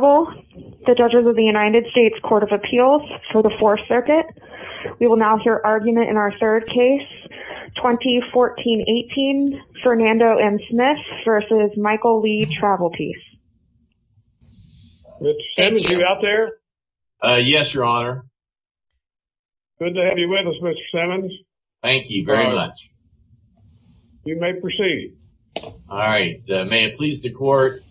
the judges of the United States Court of Appeals for the Fourth Circuit. We will now hear argument in our third case 2014-18 Fernando M. Smith versus Michael Lee Travelpiece. Mr. Simmons, are you out there? Yes, Your Honor. Good to have you with us, Mr. Simmons. Thank you very much. You may proceed. All right, may it please the court,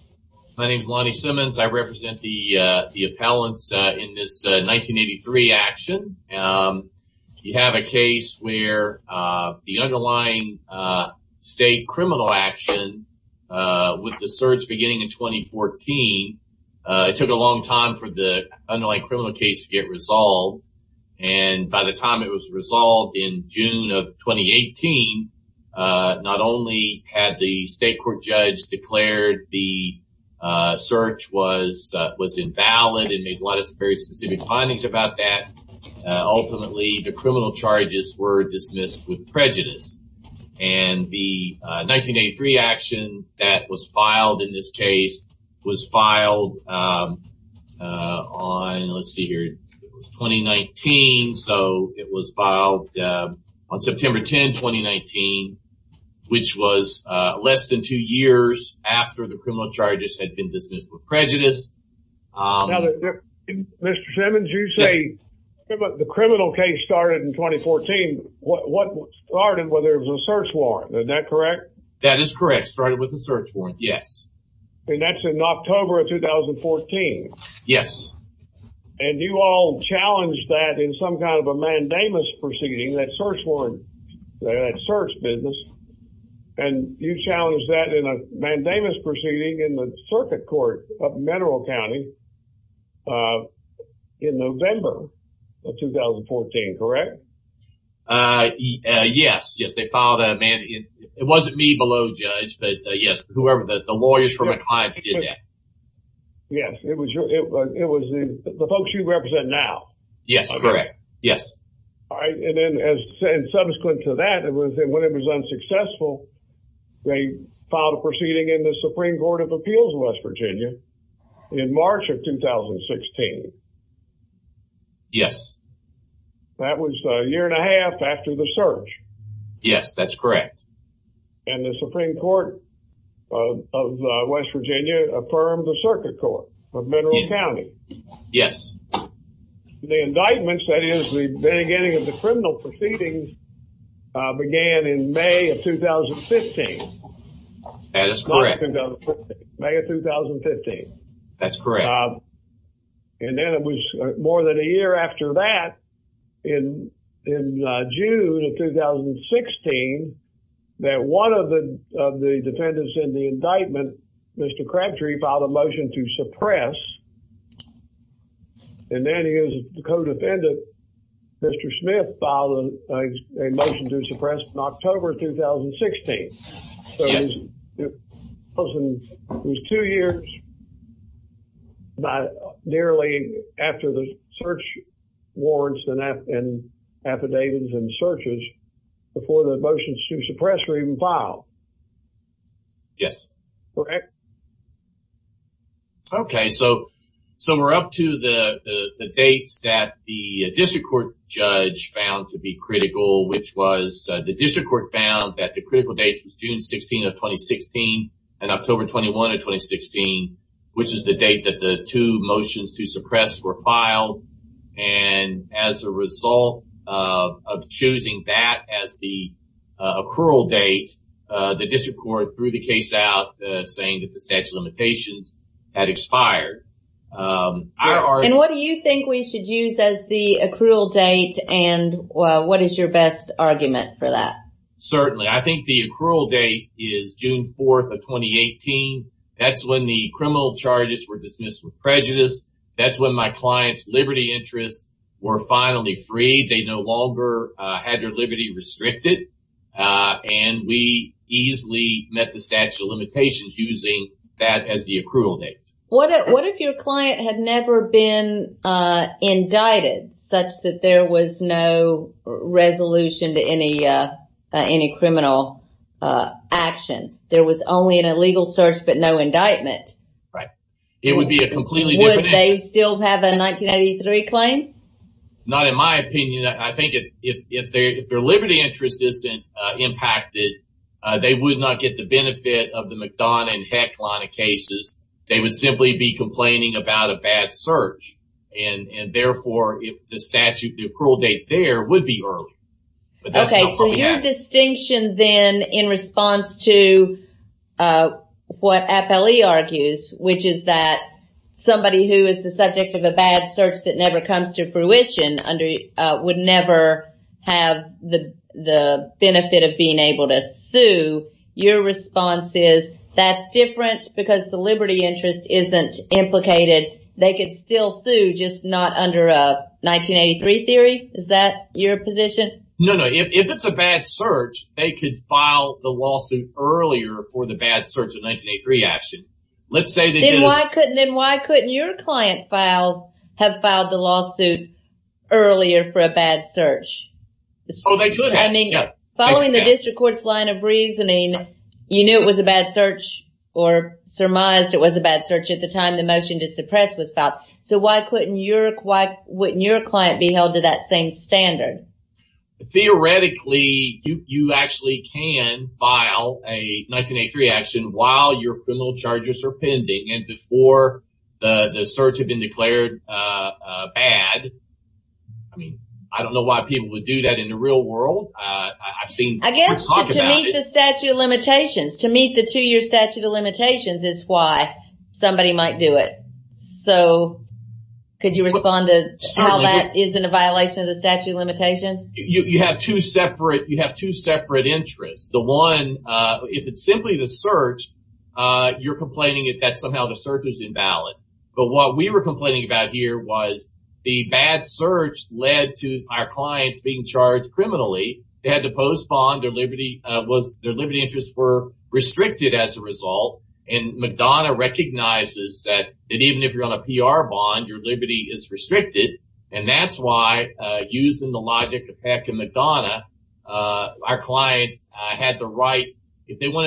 my name is Lonnie Smith. The appellants in this 1983 action, you have a case where the underlying state criminal action with the search beginning in 2014, it took a long time for the underlying criminal case to get resolved and by the time it was resolved in June of 2018, not only had the state court judge declared the search was invalid and made a lot of very specific findings about that, ultimately the criminal charges were dismissed with prejudice and the 1983 action that was filed in this case was filed on, let's see here, it was 2019, so it was filed on September 10, 2019, which was less than two years after the dismissal of prejudice. Now, Mr. Simmons, you say the criminal case started in 2014. What started, whether it was a search warrant, is that correct? That is correct, started with the search warrant, yes. And that's in October of 2014? Yes. And you all challenged that in some kind of a mandamus proceeding, that search warrant, that search business, and you challenged that in a mandamus proceeding in the circuit court of Mineral County in November of 2014, correct? Yes, yes, they filed a mandamus. It wasn't me below judge, but yes, whoever, the lawyers from McLeod did that. Yes, it was the folks you represent now. Yes, correct, yes. All right, and then subsequent to that, when it was unsuccessful, they filed a proceeding in the Supreme Court of Appeals, West Virginia, in March of 2016. Yes. That was a year and a half after the search. Yes, that's correct. And the Supreme Court of West Virginia affirmed the circuit court of Mineral County. Yes. The indictments, that is, the beginning of the criminal proceedings, began in May of 2015. That is correct. May of 2015. That's correct. And then it was more than a year after that, in June of 2016, that one of the defendants in the indictment, Mr. Crabtree, filed a motion to suppress, and then his co-defendant, Mr. Smith, filed a motion to suppress in October 2016. Yes. So it was two years, nearly, after the search warrants and affidavits and searches before the motions to suppress were even filed. Yes. Correct. Okay, so we're up to the dates that the district court judge found to be critical, which was the district court found that the critical date was June 16 of 2016 and October 21 of 2016, which is the date that the two motions to suppress were filed. And as a result of choosing that as the accrual date, the district court threw the case out, saying that the statute of limitations had expired. And what do you think we should use as the accrual date, and what is your best argument for that? Certainly. I think the accrual date is June 4th of 2018. That's when the criminal charges were dismissed with prejudice. That's when my clients' liberty interests were finally freed. They no longer had their liberty restricted, and we easily met the statute of limitations using that as the accrual date. What if your client had never been indicted, such that there was no resolution to any criminal action? There was only an illegal search, but no indictment. Right. It would be a completely different issue. Would they still have a 1983 claim? Not in my opinion. I think if their liberty interest isn't impacted, they would not get the benefit of the McDonough and Heck line of cases. They would simply be complaining about a bad search, and therefore the statute, the accrual date there would be early. Okay, so your distinction then in response to what FLE argues, which is that somebody who is the subject of a bad search that never comes to fruition would never have the benefit of being able to sue, your response is that's different because the liberty interest isn't implicated. They could still sue, just not under a 1983 theory. Is that your position? No, no. If it's a bad search, they could file the lawsuit earlier for the bad search of 1983 action. Let's say that... Then why couldn't your client file, have filed the lawsuit earlier for a bad search? I mean, following the district court's line of reasoning, you knew it was a bad search or surmised it was a bad search at the time the motion to suppress was filed, so why couldn't your client be held to that same standard? Theoretically, you actually can file a 1983 action while your criminal charges are pending and before the search had been declared bad. I mean, I don't know why people would do that in the real world. I've seen... I guess to meet the statute of limitations, to meet the two-year statute of limitations is why somebody might do it. So, could you respond to how that isn't a violation of the statute of limitations? You have two separate, you have two separate interests. The one, if it's simply the search, you're complaining that somehow the search is invalid, but what we were complaining about here was the bad search led to our clients being charged criminally. They had to postpone their liberty, was their liberty interests were restricted as a result and Madonna recognizes that even if you're on a PR bond, your liberty is restricted and that's why using the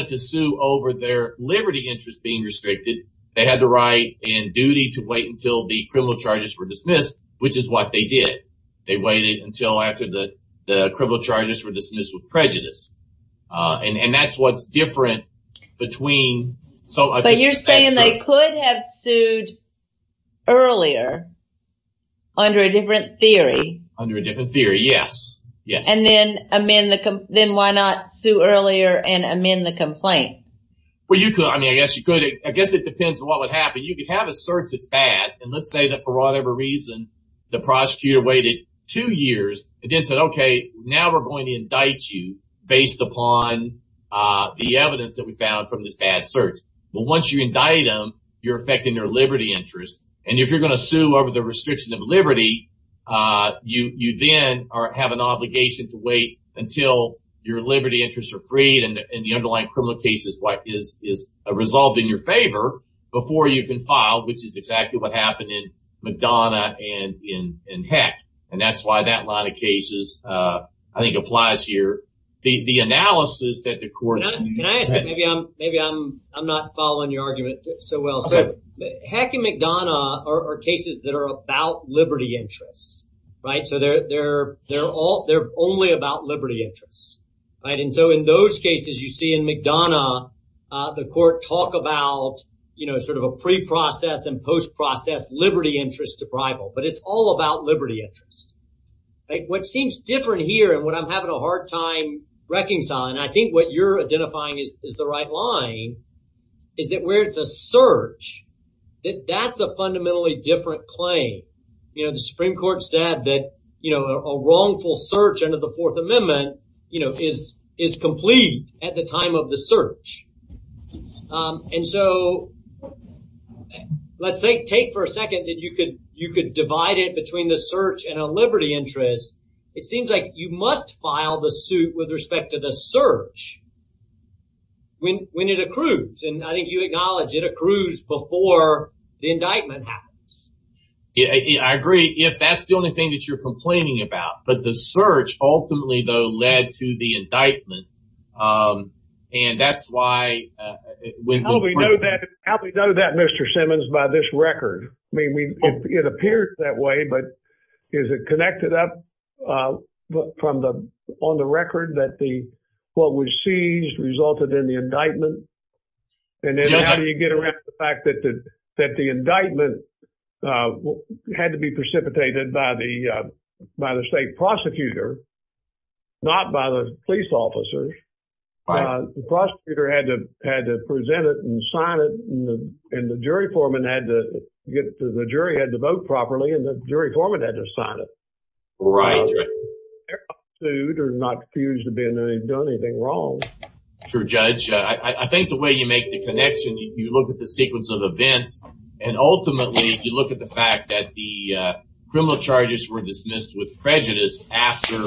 to sue over their liberty interest being restricted, they had the right and duty to wait until the criminal charges were dismissed, which is what they did. They waited until after the criminal charges were dismissed with prejudice and that's what's different between... So, you're saying they could have sued earlier under a different theory? Under a different theory, yes. And then amend the... then why not sue earlier and amend the complaint? Well, you could. I mean, I guess you could. I guess it depends on what would happen. You could have a search that's bad and let's say that for whatever reason, the prosecutor waited two years and then said, okay, now we're going to indict you based upon the evidence that we found from this bad search. But once you indict them, you're affecting their liberty interest and if you're going to sue over the restriction of liberty, you then have an obligation to wait until your liberty interests are freed and the underlying criminal cases is resolved in your favor before you can file, which is exactly what happened in McDonough and in Heck. And that's why that line of cases, I think, applies here. The analysis that the courts... Can I ask? Maybe I'm not following your argument so well. Heck and McDonough are cases that are about liberty interests, right? So they're all... they're only about liberty interests, right? And so in those cases you see in McDonough, the court talked about, you know, sort of a pre-process and post-process liberty interest deprival. But it's all about liberty interest. What seems different here and what I'm having a hard time reconciling, I think what you're identifying is the right line, is that it's a search, that that's a fundamentally different claim. You know, the Supreme Court said that, you know, a wrongful search under the Fourth Amendment, you know, is is complete at the time of the search. And so let's say take for a second that you could you could divide it between the search and a liberty interest. It seems like you must file the suit with respect to the search when it accrues. And I think you acknowledge it accrues before the indictment happens. Yeah, I agree. If that's the only thing that you're complaining about. But the search ultimately, though, led to the indictment and that's why... How do we know that, Mr. Simmons, by this record? I mean, it appears that way, but is it connected up from the... on the record that the what was seized resulted in the indictment? And then how do you get around the fact that the indictment had to be precipitated by the state prosecutor, not by the police officers. The prosecutor had to present it and sign it and the jury foreman had to get the jury had to vote properly and the jury foreman had to sign it. Right. They're not fused to being that they've done anything wrong. True, Judge. I think the way you make the connection, you look at the sequence of events and ultimately you look at the fact that the criminal charges were dismissed with prejudice after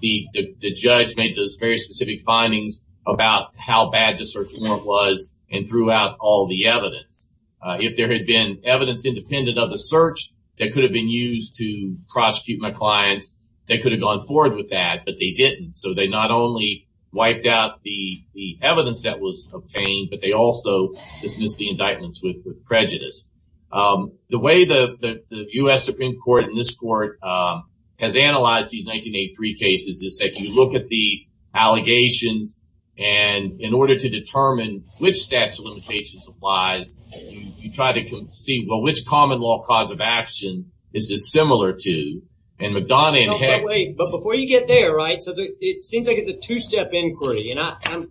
the judge made those very specific findings about how bad the search warrant was and threw out all the evidence. If there had been evidence independent of the search that could have been used to prosecute my clients, they could have gone forward with that, but they didn't. So they not only wiped out the evidence that was obtained, but they also dismissed the indictments with prejudice. The way the US Supreme Court and this court has analyzed these 1983 cases is that you look at the allegations and in order to determine which statute of action this is similar to, and McDonough... Wait, but before you get there, right, so it seems like it's a two-step inquiry and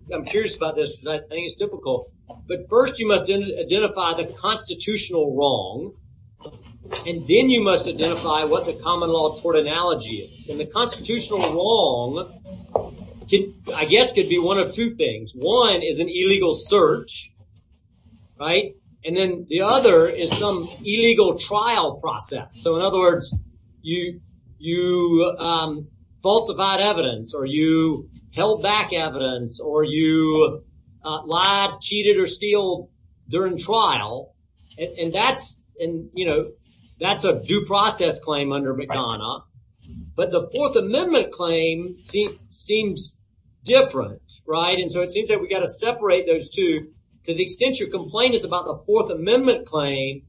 I'm curious about this. I think it's difficult, but first you must identify the constitutional wrong and then you must identify what the common law tort analogy is. And the constitutional wrong could, I guess, could be one of two things. One is an illegal search, right, and then the other is some illegal trial process. So in other words, you falsified evidence or you held back evidence or you lied, cheated, or steal during trial and that's, you know, that's a due process claim under McDonough, but the Fourth Amendment claim seems different, right? And so it seems that we got to separate those two to the extent your complaint is about the Fourth Amendment claim.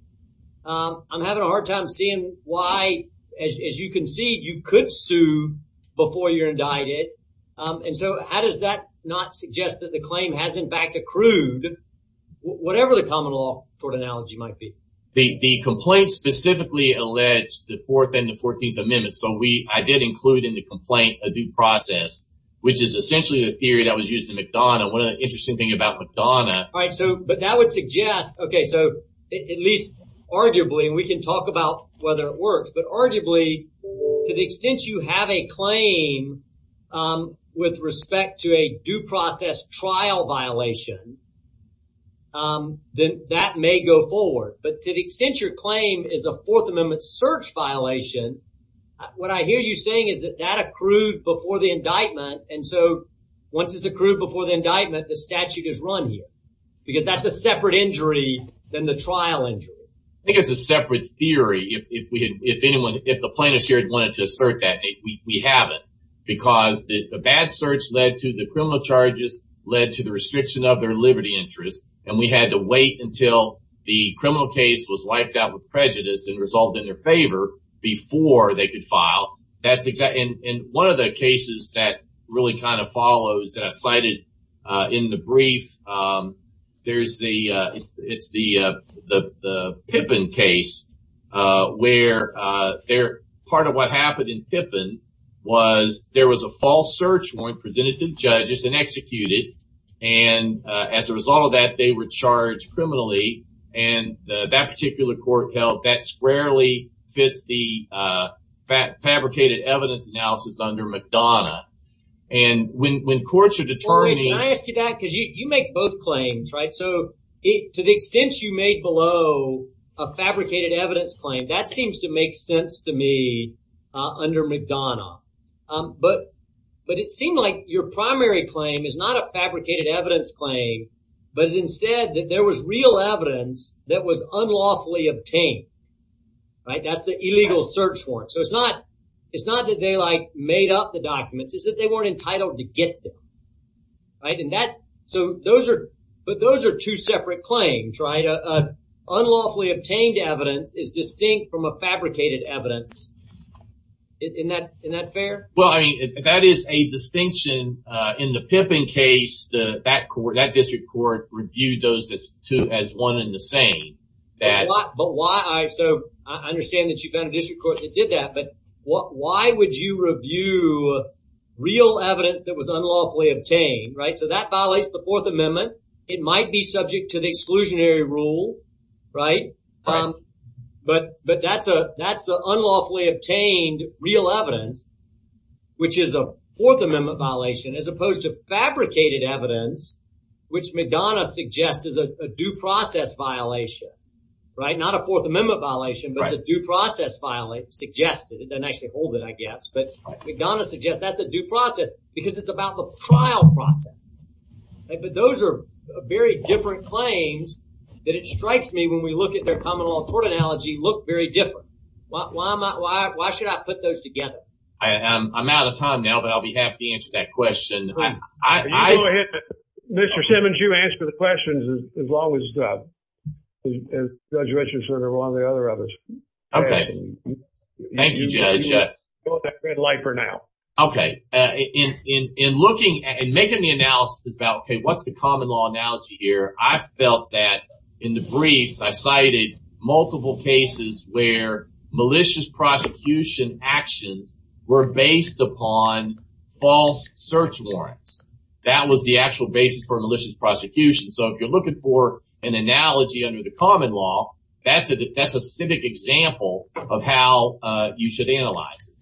I'm having a hard time seeing why, as you can see, you could sue before you're indicted. And so how does that not suggest that the claim has in fact accrued, whatever the common law tort analogy might be? The complaint specifically alleged the Fourth and the Fourteenth Amendments, so we, I did include in the complaint a due process, which is essentially the theory that was used in McDonough. One of the interesting thing about McDonough... All right, so, but that would suggest, okay, so at least arguably, and we can talk about whether it works, but arguably to the extent you have a claim with respect to a due process trial violation, then that may go forward. But to the extent your claim is a Fourth Amendment search violation, what I hear you saying is that that accrued before the indictment, and so once it's accrued before the indictment, the separate injury than the trial injury. I think it's a separate theory. If we had, if anyone, if the plaintiffs here had wanted to assert that, we haven't, because the bad search led to the criminal charges, led to the restriction of their liberty interest, and we had to wait until the criminal case was wiped out with prejudice and resulted in their favor before they could file. That's exactly, and one of the cases that really kind of follows that I cited in the it's the Pippin case, where there, part of what happened in Pippin was there was a false search warrant presented to judges and executed, and as a result of that, they were charged criminally, and that particular court held that squarely fits the fabricated evidence analysis under McDonough, and when courts are both claims, right, so to the extent you made below a fabricated evidence claim, that seems to make sense to me under McDonough, but it seemed like your primary claim is not a fabricated evidence claim, but instead that there was real evidence that was unlawfully obtained, right? That's the illegal search warrant, so it's not, it's not that they like made up the documents, it's that they weren't entitled to get them, right? And that, so those are, but those are two separate claims, right? Unlawfully obtained evidence is distinct from a fabricated evidence. Isn't that, isn't that fair? Well, I mean, that is a distinction in the Pippin case, that court, that district court reviewed those two as one and the same. But why, so I understand that you found a district court that did that, but why would you review real evidence that was unlawfully obtained, right? So that violates the Fourth Amendment. It might be subject to the exclusionary rule, right? But, but that's a, that's the unlawfully obtained real evidence, which is a Fourth Amendment violation, as opposed to fabricated evidence, which McDonough suggests is a due process violation, right? Not a due process violation, suggested, it doesn't actually hold it, I guess, but McDonough suggests that's a due process, because it's about the trial process. But those are very different claims, that it strikes me when we look at their common law court analogy, look very different. Why am I, why should I put those together? I'm out of time now, but I'll be happy to answer that question. Mr. Simmons, you answer the questions as long as Judge Richardson or one of the others. Okay, thank you, Judge. Okay, in looking and making the analysis about, okay, what's the common law analogy here? I felt that in the briefs, I cited multiple cases where malicious prosecution actions were based upon false search warrants. That was the actual basis for a malicious prosecution. So if you're looking for an analogy under the common law, that's a, that's a specific example of how you should analyze it.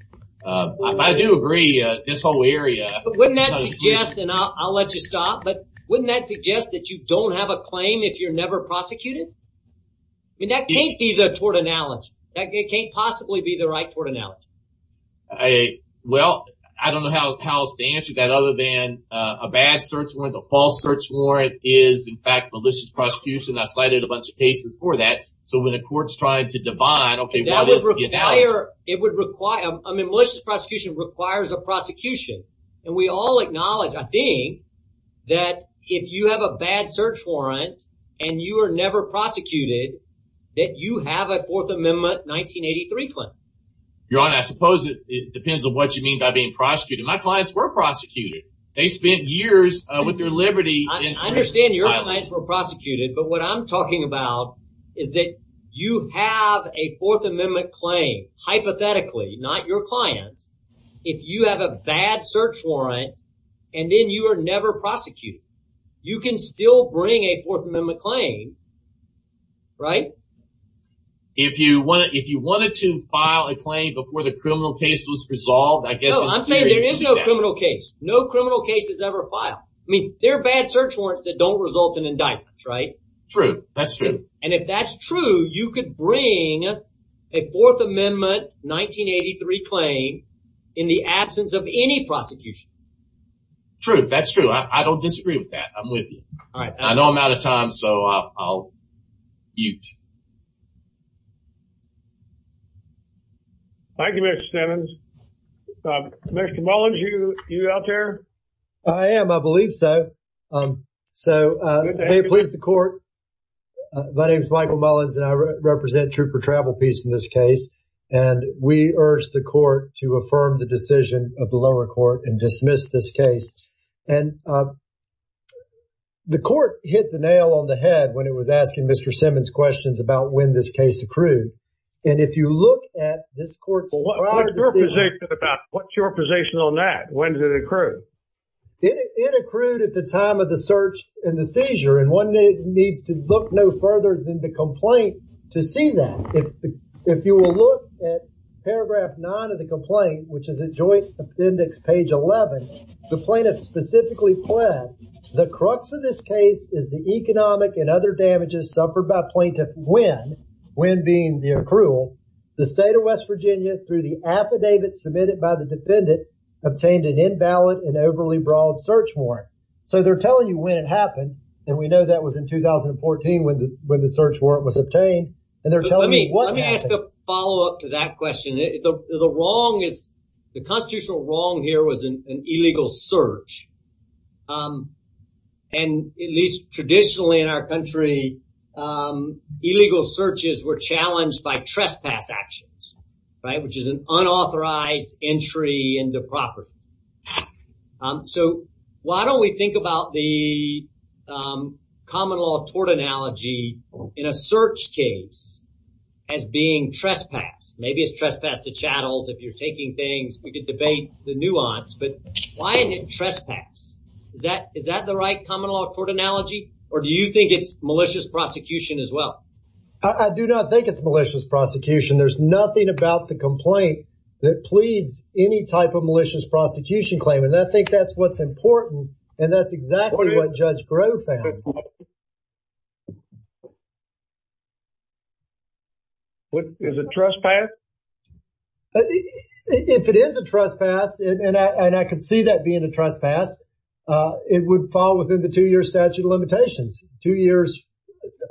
I do agree, this whole area... But wouldn't that suggest, and I'll let you stop, but wouldn't that suggest that you don't have a claim if you're never prosecuted? I mean, that can't be the tort analogy. That can't possibly be the right tort analogy. Well, I don't know how else to answer that other than a bad search warrant, a false search warrant is, in fact, malicious prosecution. I cited a bunch of cases for that. So when a court's going to define, okay, what is the analogy? It would require, I mean, malicious prosecution requires a prosecution. And we all acknowledge, I think, that if you have a bad search warrant and you are never prosecuted, that you have a Fourth Amendment 1983 claim. Your Honor, I suppose it depends on what you mean by being prosecuted. My clients were prosecuted. They spent years with their liberty... I understand your clients were prosecuted, but what I'm talking about is that you have a Fourth Amendment claim, hypothetically, not your clients. If you have a bad search warrant and then you are never prosecuted, you can still bring a Fourth Amendment claim, right? If you wanted to file a claim before the criminal case was resolved, I guess... No, I'm saying there is no criminal case. No criminal case is ever filed. I mean, there are bad search warrants that don't result in indictments, right? True, that's true. And if that's true, you could bring a Fourth Amendment 1983 claim in the absence of any prosecution. True, that's true. I don't disagree with that. I'm with you. I know I'm out of time, so I'll mute. Thank you, Mr. Simmons. Mr. Mullins, are you out there? I am, I believe so. So, may it please the court, my name is Michael Mullins and I represent Trooper Travel Peace in this case, and we urge the court to affirm the decision of the lower court and dismiss this case. And the court hit the nail on the head when it was asking Mr. Simmons questions about when this case accrued. And if you look at this court's prior decision... What's your position on that? When did it accrue? It accrued at the time of the search and the seizure, and one needs to look no further than the complaint to see that. If you will look at paragraph 9 of the complaint, which is a joint appendix, page 11, the plaintiff specifically pled, the crux of this case is the economic and other damages suffered by plaintiff when, when being the accrual, the state of West Virginia through the affidavit submitted by the defendant, obtained an invalid and overly broad search warrant. So they're telling you when it happened, and we know that was in 2014 when the search warrant was obtained, and they're telling me what happened. Let me ask a follow-up to that question. The wrong is, the constitutional wrong here was an illegal search, and at least traditionally in our country, illegal searches were challenged by trespass actions, right? Which is an unauthorized entry into property. So why don't we think about the common law tort analogy in a search case as being trespass? Maybe it's trespass to chattels, if you're taking things, we could debate the nuance, but why isn't it trespass? Is that, is that the right common law tort analogy? Or do you think it's malicious prosecution as well? I do not think it's malicious prosecution. There's nothing about the complaint that pleads any type of malicious prosecution claim, and I think that's what's important, and that's exactly what Judge Grove found. What, is it trespass? If it is a trespass, and I can see that being a trespass, it would fall within the two-year statute of limitations. Two years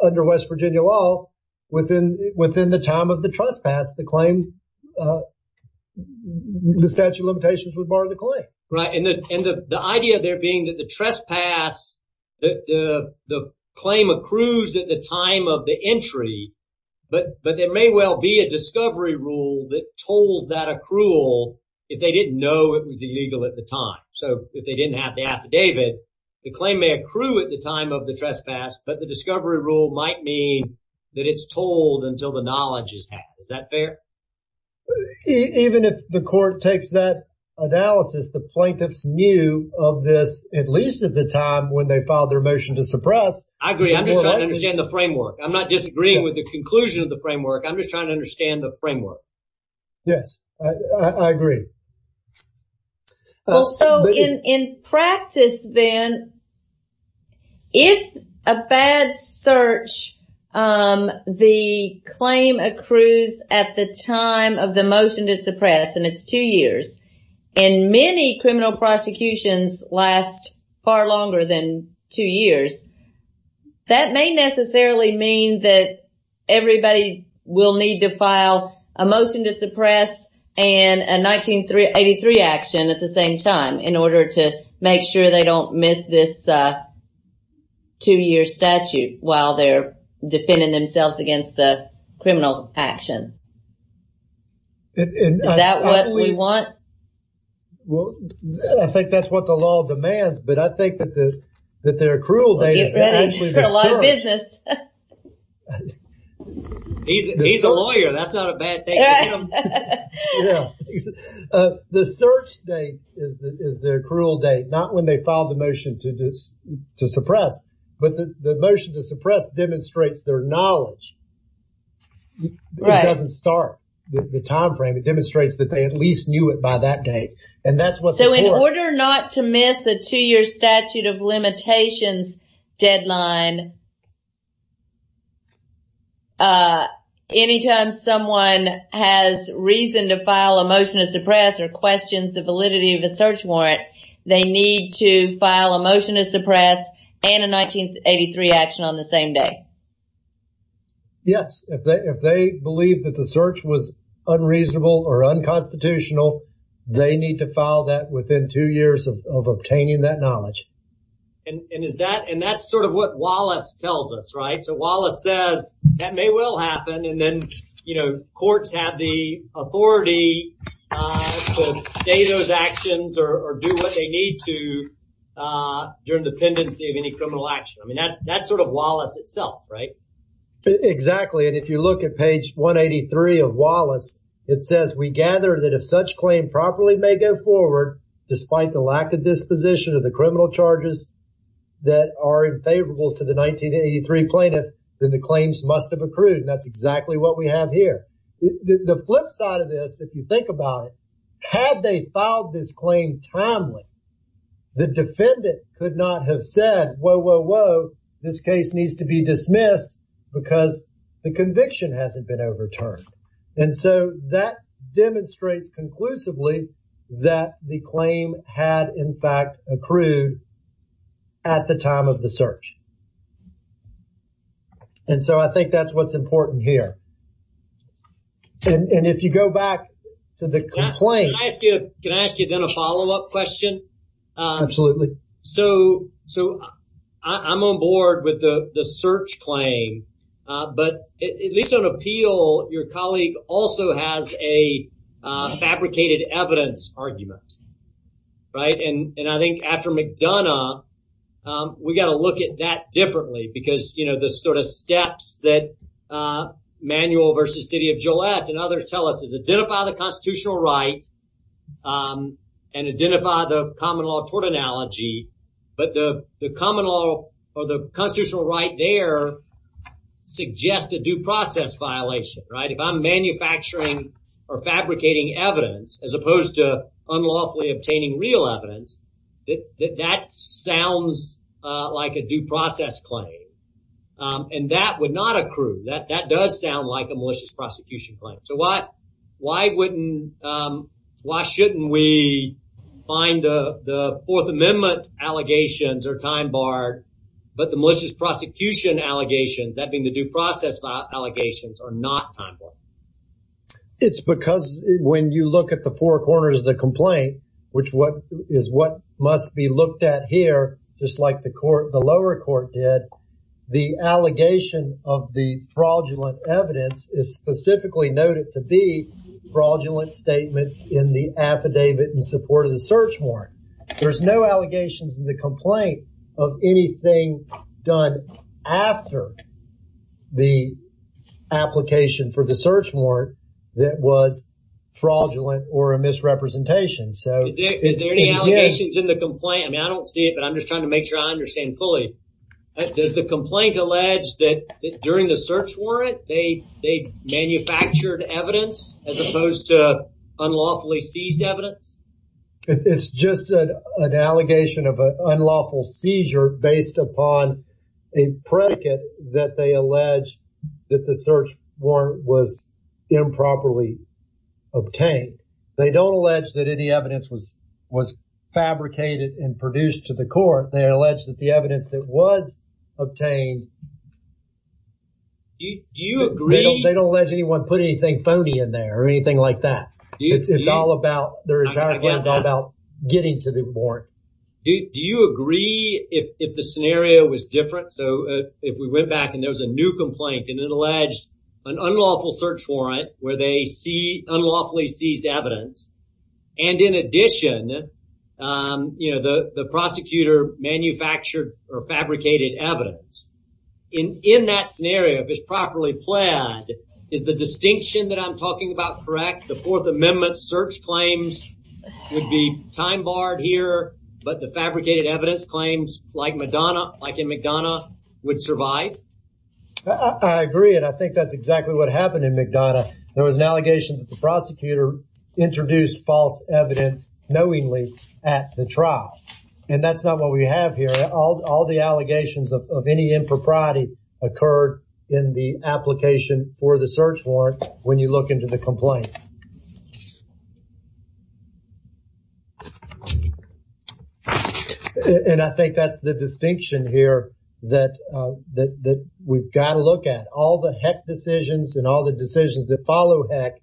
under West Virginia law, within the time of the trespass, the claim, the statute of limitations would bar the claim. Right, and the idea there being that the trespass, that the claim accrues at the time of the entry, but there may well be a discovery rule that tolls that accrual if they didn't know it was the claim may accrue at the time of the trespass, but the discovery rule might mean that it's told until the knowledge is had. Is that fair? Even if the court takes that analysis, the plaintiffs knew of this, at least at the time when they filed their motion to suppress. I agree, I'm just trying to understand the framework. I'm not disagreeing with the conclusion of the framework, I'm just trying to understand. If a bad search, the claim accrues at the time of the motion to suppress, and it's two years, and many criminal prosecutions last far longer than two years, that may necessarily mean that everybody will need to file a motion to suppress and a 1983 action at the same time in order to make sure they don't miss this two-year statute while they're defending themselves against the criminal action. Is that what we want? Well, I think that's what the law demands, but I think that their accrual date is actually the search. He's a lawyer, that's not a bad thing to him. The search date is their accrual date, not when they filed the motion to suppress, but the motion to suppress demonstrates their knowledge. It doesn't start the time frame, it demonstrates that they at least knew it by that date, and that's what the court... So in order not to miss a two-year statute of limitations deadline, anytime someone has reason to file a motion to suppress or questions the validity of the search warrant, they need to file a motion to suppress and a 1983 action on the same day. Yes, if they believe that the search was unreasonable or unconstitutional, they need to file that within two years of obtaining that that's sort of what Wallace tells us, right? So Wallace says that may well happen and then, you know, courts have the authority to stay those actions or do what they need to during the pendency of any criminal action. I mean, that's sort of Wallace itself, right? Exactly, and if you look at page 183 of Wallace, it says we gather that if such claim properly may go forward despite the lack of disposition of the criminal charges that are unfavorable to the 1983 plaintiff, then the claims must have accrued, and that's exactly what we have here. The flip side of this, if you think about it, had they filed this claim timely, the defendant could not have said, whoa, whoa, whoa, this case needs to be dismissed because the conviction hasn't been overturned. And so that demonstrates conclusively that the claim had, in fact, accrued at the time of the search. And so I think that's what's important here. And if you go back to the claim... Can I ask you then a follow-up question? Absolutely. So I'm on board with the search claim, but at least on appeal, your colleague also has a fabricated evidence argument, right? And I think after McDonough, we got to look at that differently because, you know, the sort of steps that Manuel versus City of Gillette and others tell us is identify the constitutional right and identify the common law tort analogy, but the common law or the constitutional right there suggests a due process violation, right? If I'm manufacturing or fabricating evidence, as opposed to unlawfully obtaining real evidence, that sounds like a due process claim. And that would not accrue. That does sound like a malicious prosecution claim. So why shouldn't we find the Fourth Amendment allegations are time-barred, but the malicious prosecution allegations, that being the due process allegations, are not time-barred? It's because when you look at the four corners of the complaint, which is what must be looked at here, just like the lower court did, the allegation of the fraudulent evidence is specifically noted to be fraudulent statements in the affidavit in support of the search warrant. There's no allegations in the complaint of anything done after the application for the search warrant that was fraudulent or a misrepresentation. So is there any allegations in the complaint? I mean, I don't see it, but I'm just trying to make sure I understand fully. Does the complaint allege that during the search warrant they manufactured evidence as opposed to unlawfully seized evidence? It's just an allegation of an unlawful seizure based upon a predicate that they allege that the search warrant was improperly obtained. They don't allege that any evidence was fabricated and produced to the court. They allege that the evidence that was obtained. Do you agree? They don't allege anyone put anything phony in there or anything like that. It's all about, their entire plan is all about getting to the warrant. Do you agree if the scenario was different? So if we went back and there was a new complaint and it alleged an unlawful search warrant where they see unlawfully seized evidence and in addition, you know, the prosecutor manufactured or fabricated evidence. In that scenario, if it's properly pled, is the distinction that I'm talking about correct? The Fourth Amendment search claims would be time barred here, but the fabricated evidence claims like Madonna, like in McDonough, would survive? I agree and I think that's exactly what happened in McDonough. There was an allegation that the prosecutor introduced false evidence knowingly at the trial and that's not what we have here. All the allegations of any impropriety occurred in the application for the search warrant when you look into the complaint. And I think that's the distinction here that we've got to and all the decisions that follow HEC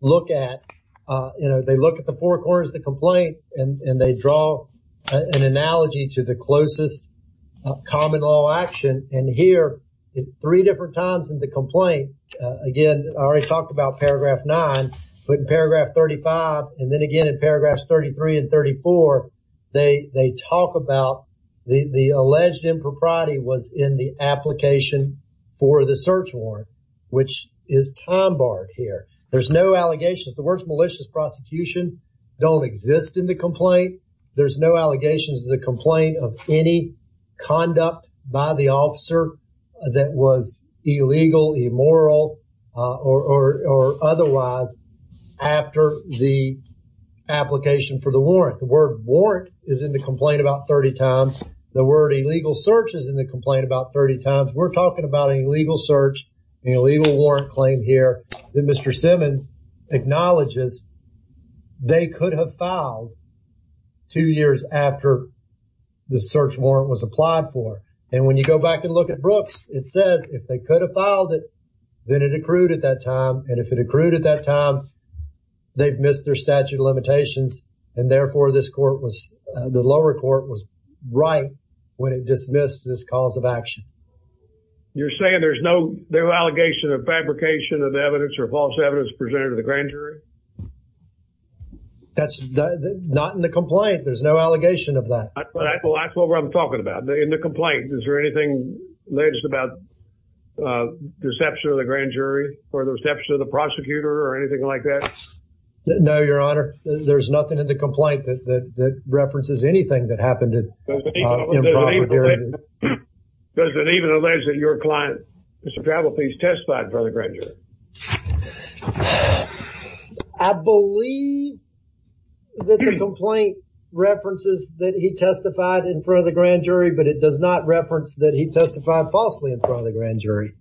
look at, you know, they look at the four corners of the complaint and they draw an analogy to the closest common law action. And here, three different times in the complaint, again, I already talked about paragraph 9, but in paragraph 35 and then again in paragraphs 33 and 34, they talk about the alleged impropriety was in the application for the search warrant, which is time barred here. There's no allegations. The word malicious prosecution don't exist in the complaint. There's no allegations in the complaint of any conduct by the officer that was illegal, immoral, or otherwise after the application for the warrant. The word warrant is in the complaint about 30 times. The word illegal search is in the complaint about 30 times. We're looking at the search and illegal warrant claim here that Mr. Simmons acknowledges they could have filed two years after the search warrant was applied for. And when you go back and look at Brooks, it says if they could have filed it, then it accrued at that time. And if it accrued at that time, they've missed their statute limitations and therefore this court was, the lower court, was right when it was. Is there an allegation of fabrication of evidence or false evidence presented to the grand jury? That's not in the complaint. There's no allegation of that. Well, that's what I'm talking about. In the complaint, is there anything alleged about deception of the grand jury or the reception of the prosecutor or anything like that? No, your honor. There's nothing in the complaint that references anything that happened. Does it even allege that your client, Mr. Travel, please testify in front of the grand jury? I believe that the complaint references that he testified in front of the grand jury, but it does not reference that he testified falsely in front of the grand jury.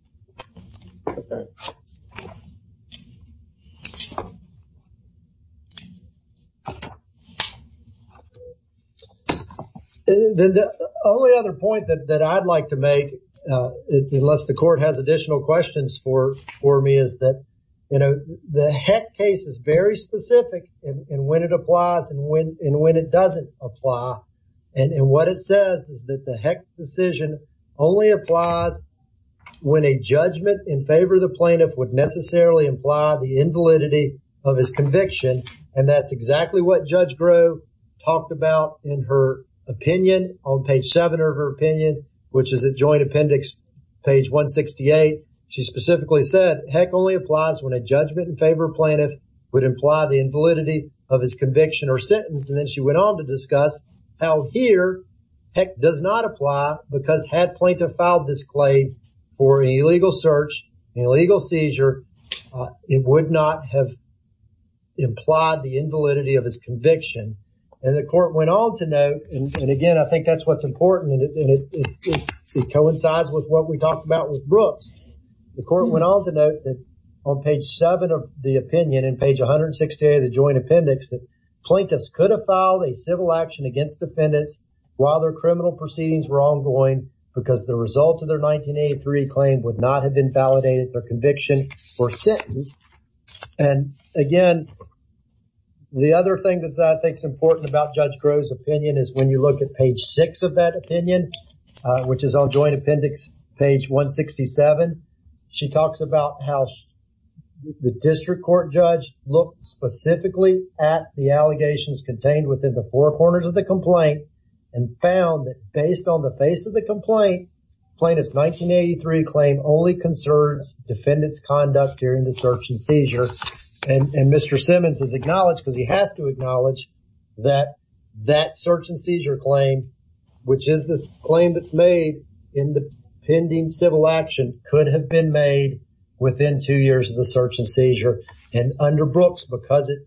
The only other point that I'd like to make, unless the court has additional questions for me, is that, you know, the Heck case is very specific in when it applies and when it doesn't apply. And what it says is that the Heck decision only applies when a judgment in favor of the plaintiff would necessarily imply the invalidity of his conviction. And that's exactly what Judge Grove talked about in her opinion on page 7 of her opinion, which is a joint appendix, page 168. She specifically said Heck only applies when a judgment in favor of plaintiff would imply the invalidity of his conviction or sentence. And then she went on to discuss how here Heck does not apply because had plaintiff filed this claim for an illegal search, an illegal seizure, it would not have implied the And again, I think that's what's important and it coincides with what we talked about with Brooks. The court went on to note that on page 7 of the opinion and page 168 of the joint appendix, that plaintiffs could have filed a civil action against defendants while their criminal proceedings were ongoing because the result of their 1983 claim would not have been validated their conviction or sentence. And again, the other thing that I think is important about Judge Grove's opinion is when you look at page 6 of that opinion, which is on joint appendix page 167, she talks about how the district court judge looked specifically at the allegations contained within the four corners of the complaint and found that based on the face of the complaint, plaintiffs 1983 claim only concerns defendants conduct during the search and seizure. And Mr. Simmons is acknowledged because he has to acknowledge that that search and seizure claim, which is this claim that's made in the pending civil action, could have been made within two years of the search and seizure. And under Brooks, because it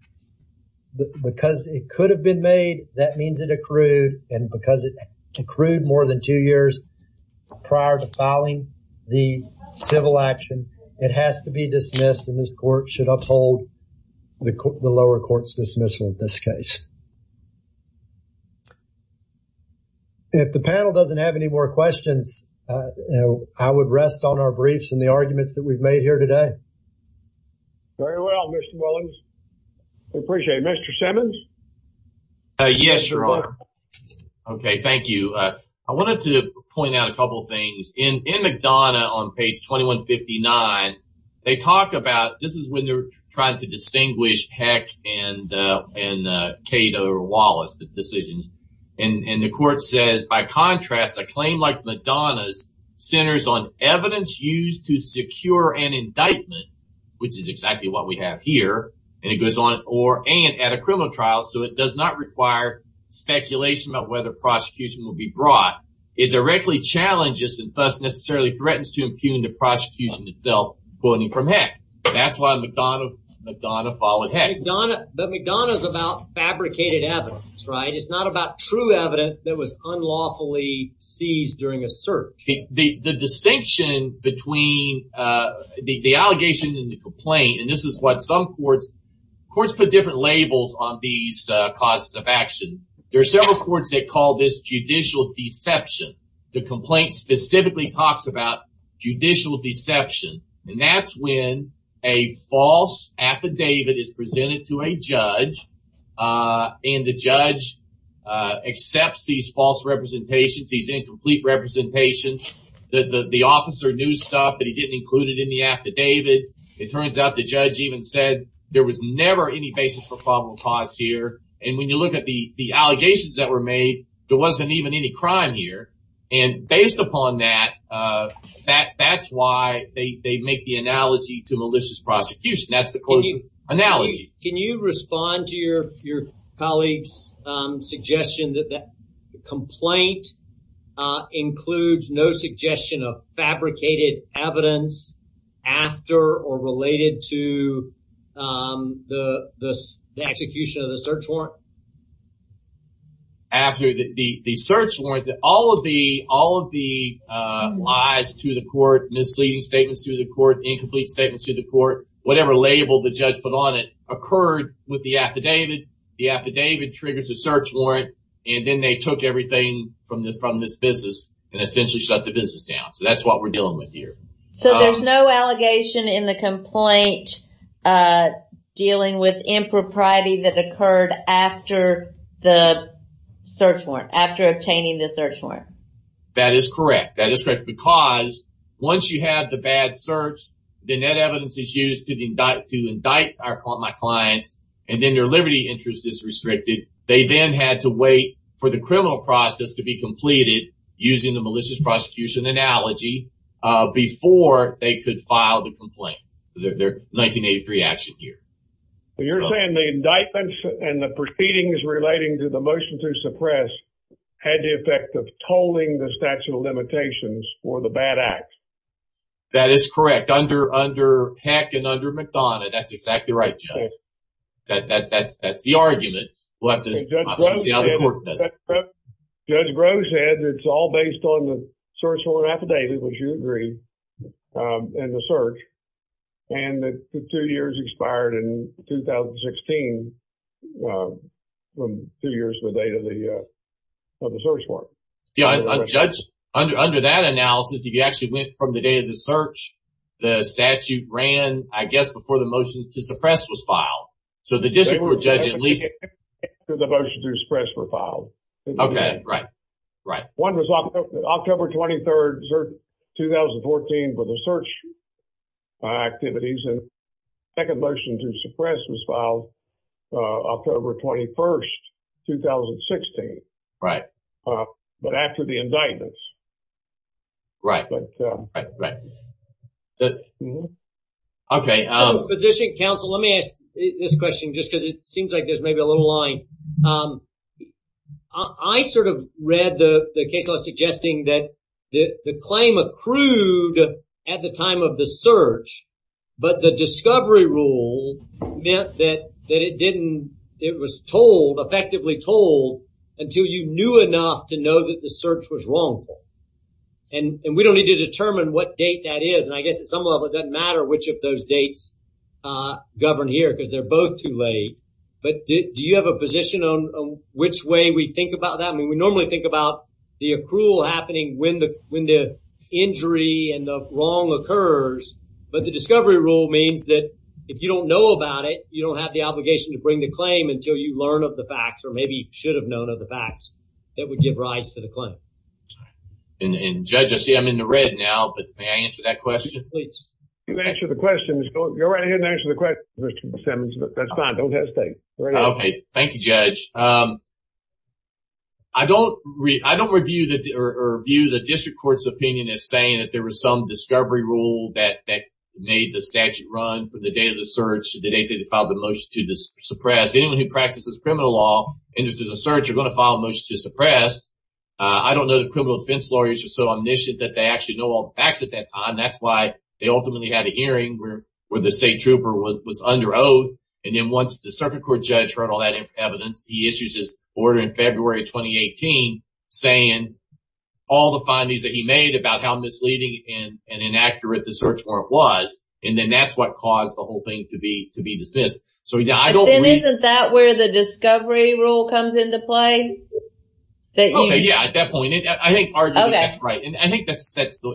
could have been made, that means it accrued and because it accrued more than two years prior to filing the civil action, it has to be dismissed and this court should uphold the lower court's dismissal in this case. If the panel doesn't have any more questions, I would rest on our briefs and the arguments that we've made here today. Very well, Mr. Williams, we appreciate it. Mr. Simmons? Yes, Your Honor. Okay, thank you. I wanted to point out a they talk about this is when they're trying to distinguish Heck and Cato Wallace, the decisions, and the court says, by contrast, a claim like Madonna's centers on evidence used to secure an indictment, which is exactly what we have here, and it goes on or and at a criminal trial, so it does not require speculation about whether prosecution will be brought. It directly challenges and thus necessarily threatens to impugn the prosecution itself, quoting from Heck. That's why Madonna followed Heck. But Madonna's about fabricated evidence, right? It's not about true evidence that was unlawfully seized during a search. The distinction between the allegation and the complaint, and this is what some courts, courts put different labels on these causes of action. There are several courts that call this judicial deception, the complaint specifically talks about judicial deception, and that's when a false affidavit is presented to a judge, and the judge accepts these false representations, these incomplete representations. The officer knew stuff, but he didn't include it in the affidavit. It turns out the judge even said there was never any basis for probable cause here, and when you look at the allegations that were made, there wasn't even any crime here, and based upon that, that's why they make the analogy to malicious prosecution. That's the closest analogy. Can you respond to your colleague's suggestion that the complaint includes no suggestion of fabricated evidence after or related to the execution of the search warrant? After the search warrant, all of the lies to the court, misleading statements to the court, incomplete statements to the court, whatever label the judge put on it occurred with the affidavit. The affidavit triggers a search warrant, and then they took everything from this business and essentially shut the business down. So that's what we're dealing with here. So there's no allegation in the complaint dealing with impropriety that occurred after the search warrant, after obtaining the search warrant. That is correct. That is correct because once you have the bad search, the net evidence is used to indict my clients, and then their liberty interest is restricted. They then had to wait for the criminal process to be completed using the file to complain. They're 1983 action here. You're saying the indictments and the proceedings relating to the motion to suppress had the effect of tolling the statute of limitations for the bad act? That is correct. Under Peck and under McDonough, that's exactly right, Judge. That's the argument. Judge Grosz said it's all based on the search warrant affidavit, which you agree, and the search, and the two years expired in 2016, two years from the date of the search warrant. Yeah, Judge, under that analysis, if you actually went from the date of the search, the statute ran, I guess, before the motion to suppress was filed. So the district court judge at least... The motion to suppress was filed. Okay, right, right. One was October 23rd, 2014, for the search activities, and the second motion to suppress was filed October 21st, 2016. Right. But after the indictments. Right, right, right. Okay. Position counsel, let me ask this question, just because it seems like there's maybe a little line. I sort of read the case law suggesting that the claim accrued at the time of the search, but the discovery rule meant that it didn't, it was told, effectively told, until you knew enough to know that the search was wrong. And we don't need to determine what date that is, and I guess at some level it doesn't matter which of those dates govern here because they're both too late. But do you have a position on which way we think about that? I mean, we normally think about the accrual happening when the injury and the wrong occurs, but the discovery rule means that if you don't know about it, you don't have the obligation to bring the claim until you learn of the facts, or maybe should have known of the facts, that would give rise to the claim. And Judge, I see I'm in the red now, but may I answer that question? Please. You can answer the question, Mr. Simmons, but that's fine. Don't hesitate. Okay, thank you, Judge. I don't review the district court's opinion as saying that there was some discovery rule that made the statute run for the date of the search, the date they filed the motion to suppress. Anyone who practices criminal law and is in the search are going to file a motion to suppress. I don't know the criminal defense lawyers are so omniscient that they actually know all the facts at that time. That's why they ultimately had a hearing where the state trooper was under oath, and then once the circuit court judge heard all that evidence, he issues his order in February of 2018 saying all the findings that he made about how misleading and inaccurate the search warrant was, and then that's what caused the whole thing to be dismissed. So yeah, I don't believe... Isn't that where the discovery rule comes into play? Yeah, at that point, I think that's right,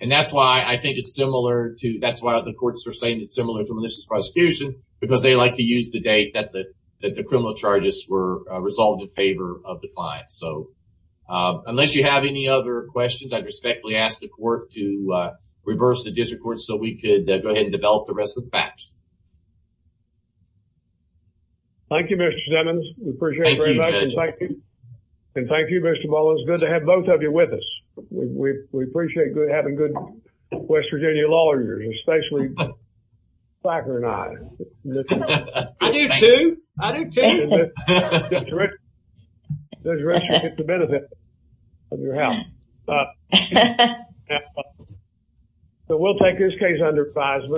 and that's why I think it's similar to... That's why the courts are saying it's similar to malicious prosecution, because they like to use the date that the criminal charges were resolved in favor of the client. So unless you have any other questions, I'd respectfully ask the court to reverse the district court so we could go ahead and develop the rest of the facts. Thank you, Mr. Simmons. We appreciate it very much. And thank you, Mr. Mullins. It's good to have both of you with us. We It's great to have both of you lawyers, especially Blacker and I. I do, too. So we'll take this case under advisement.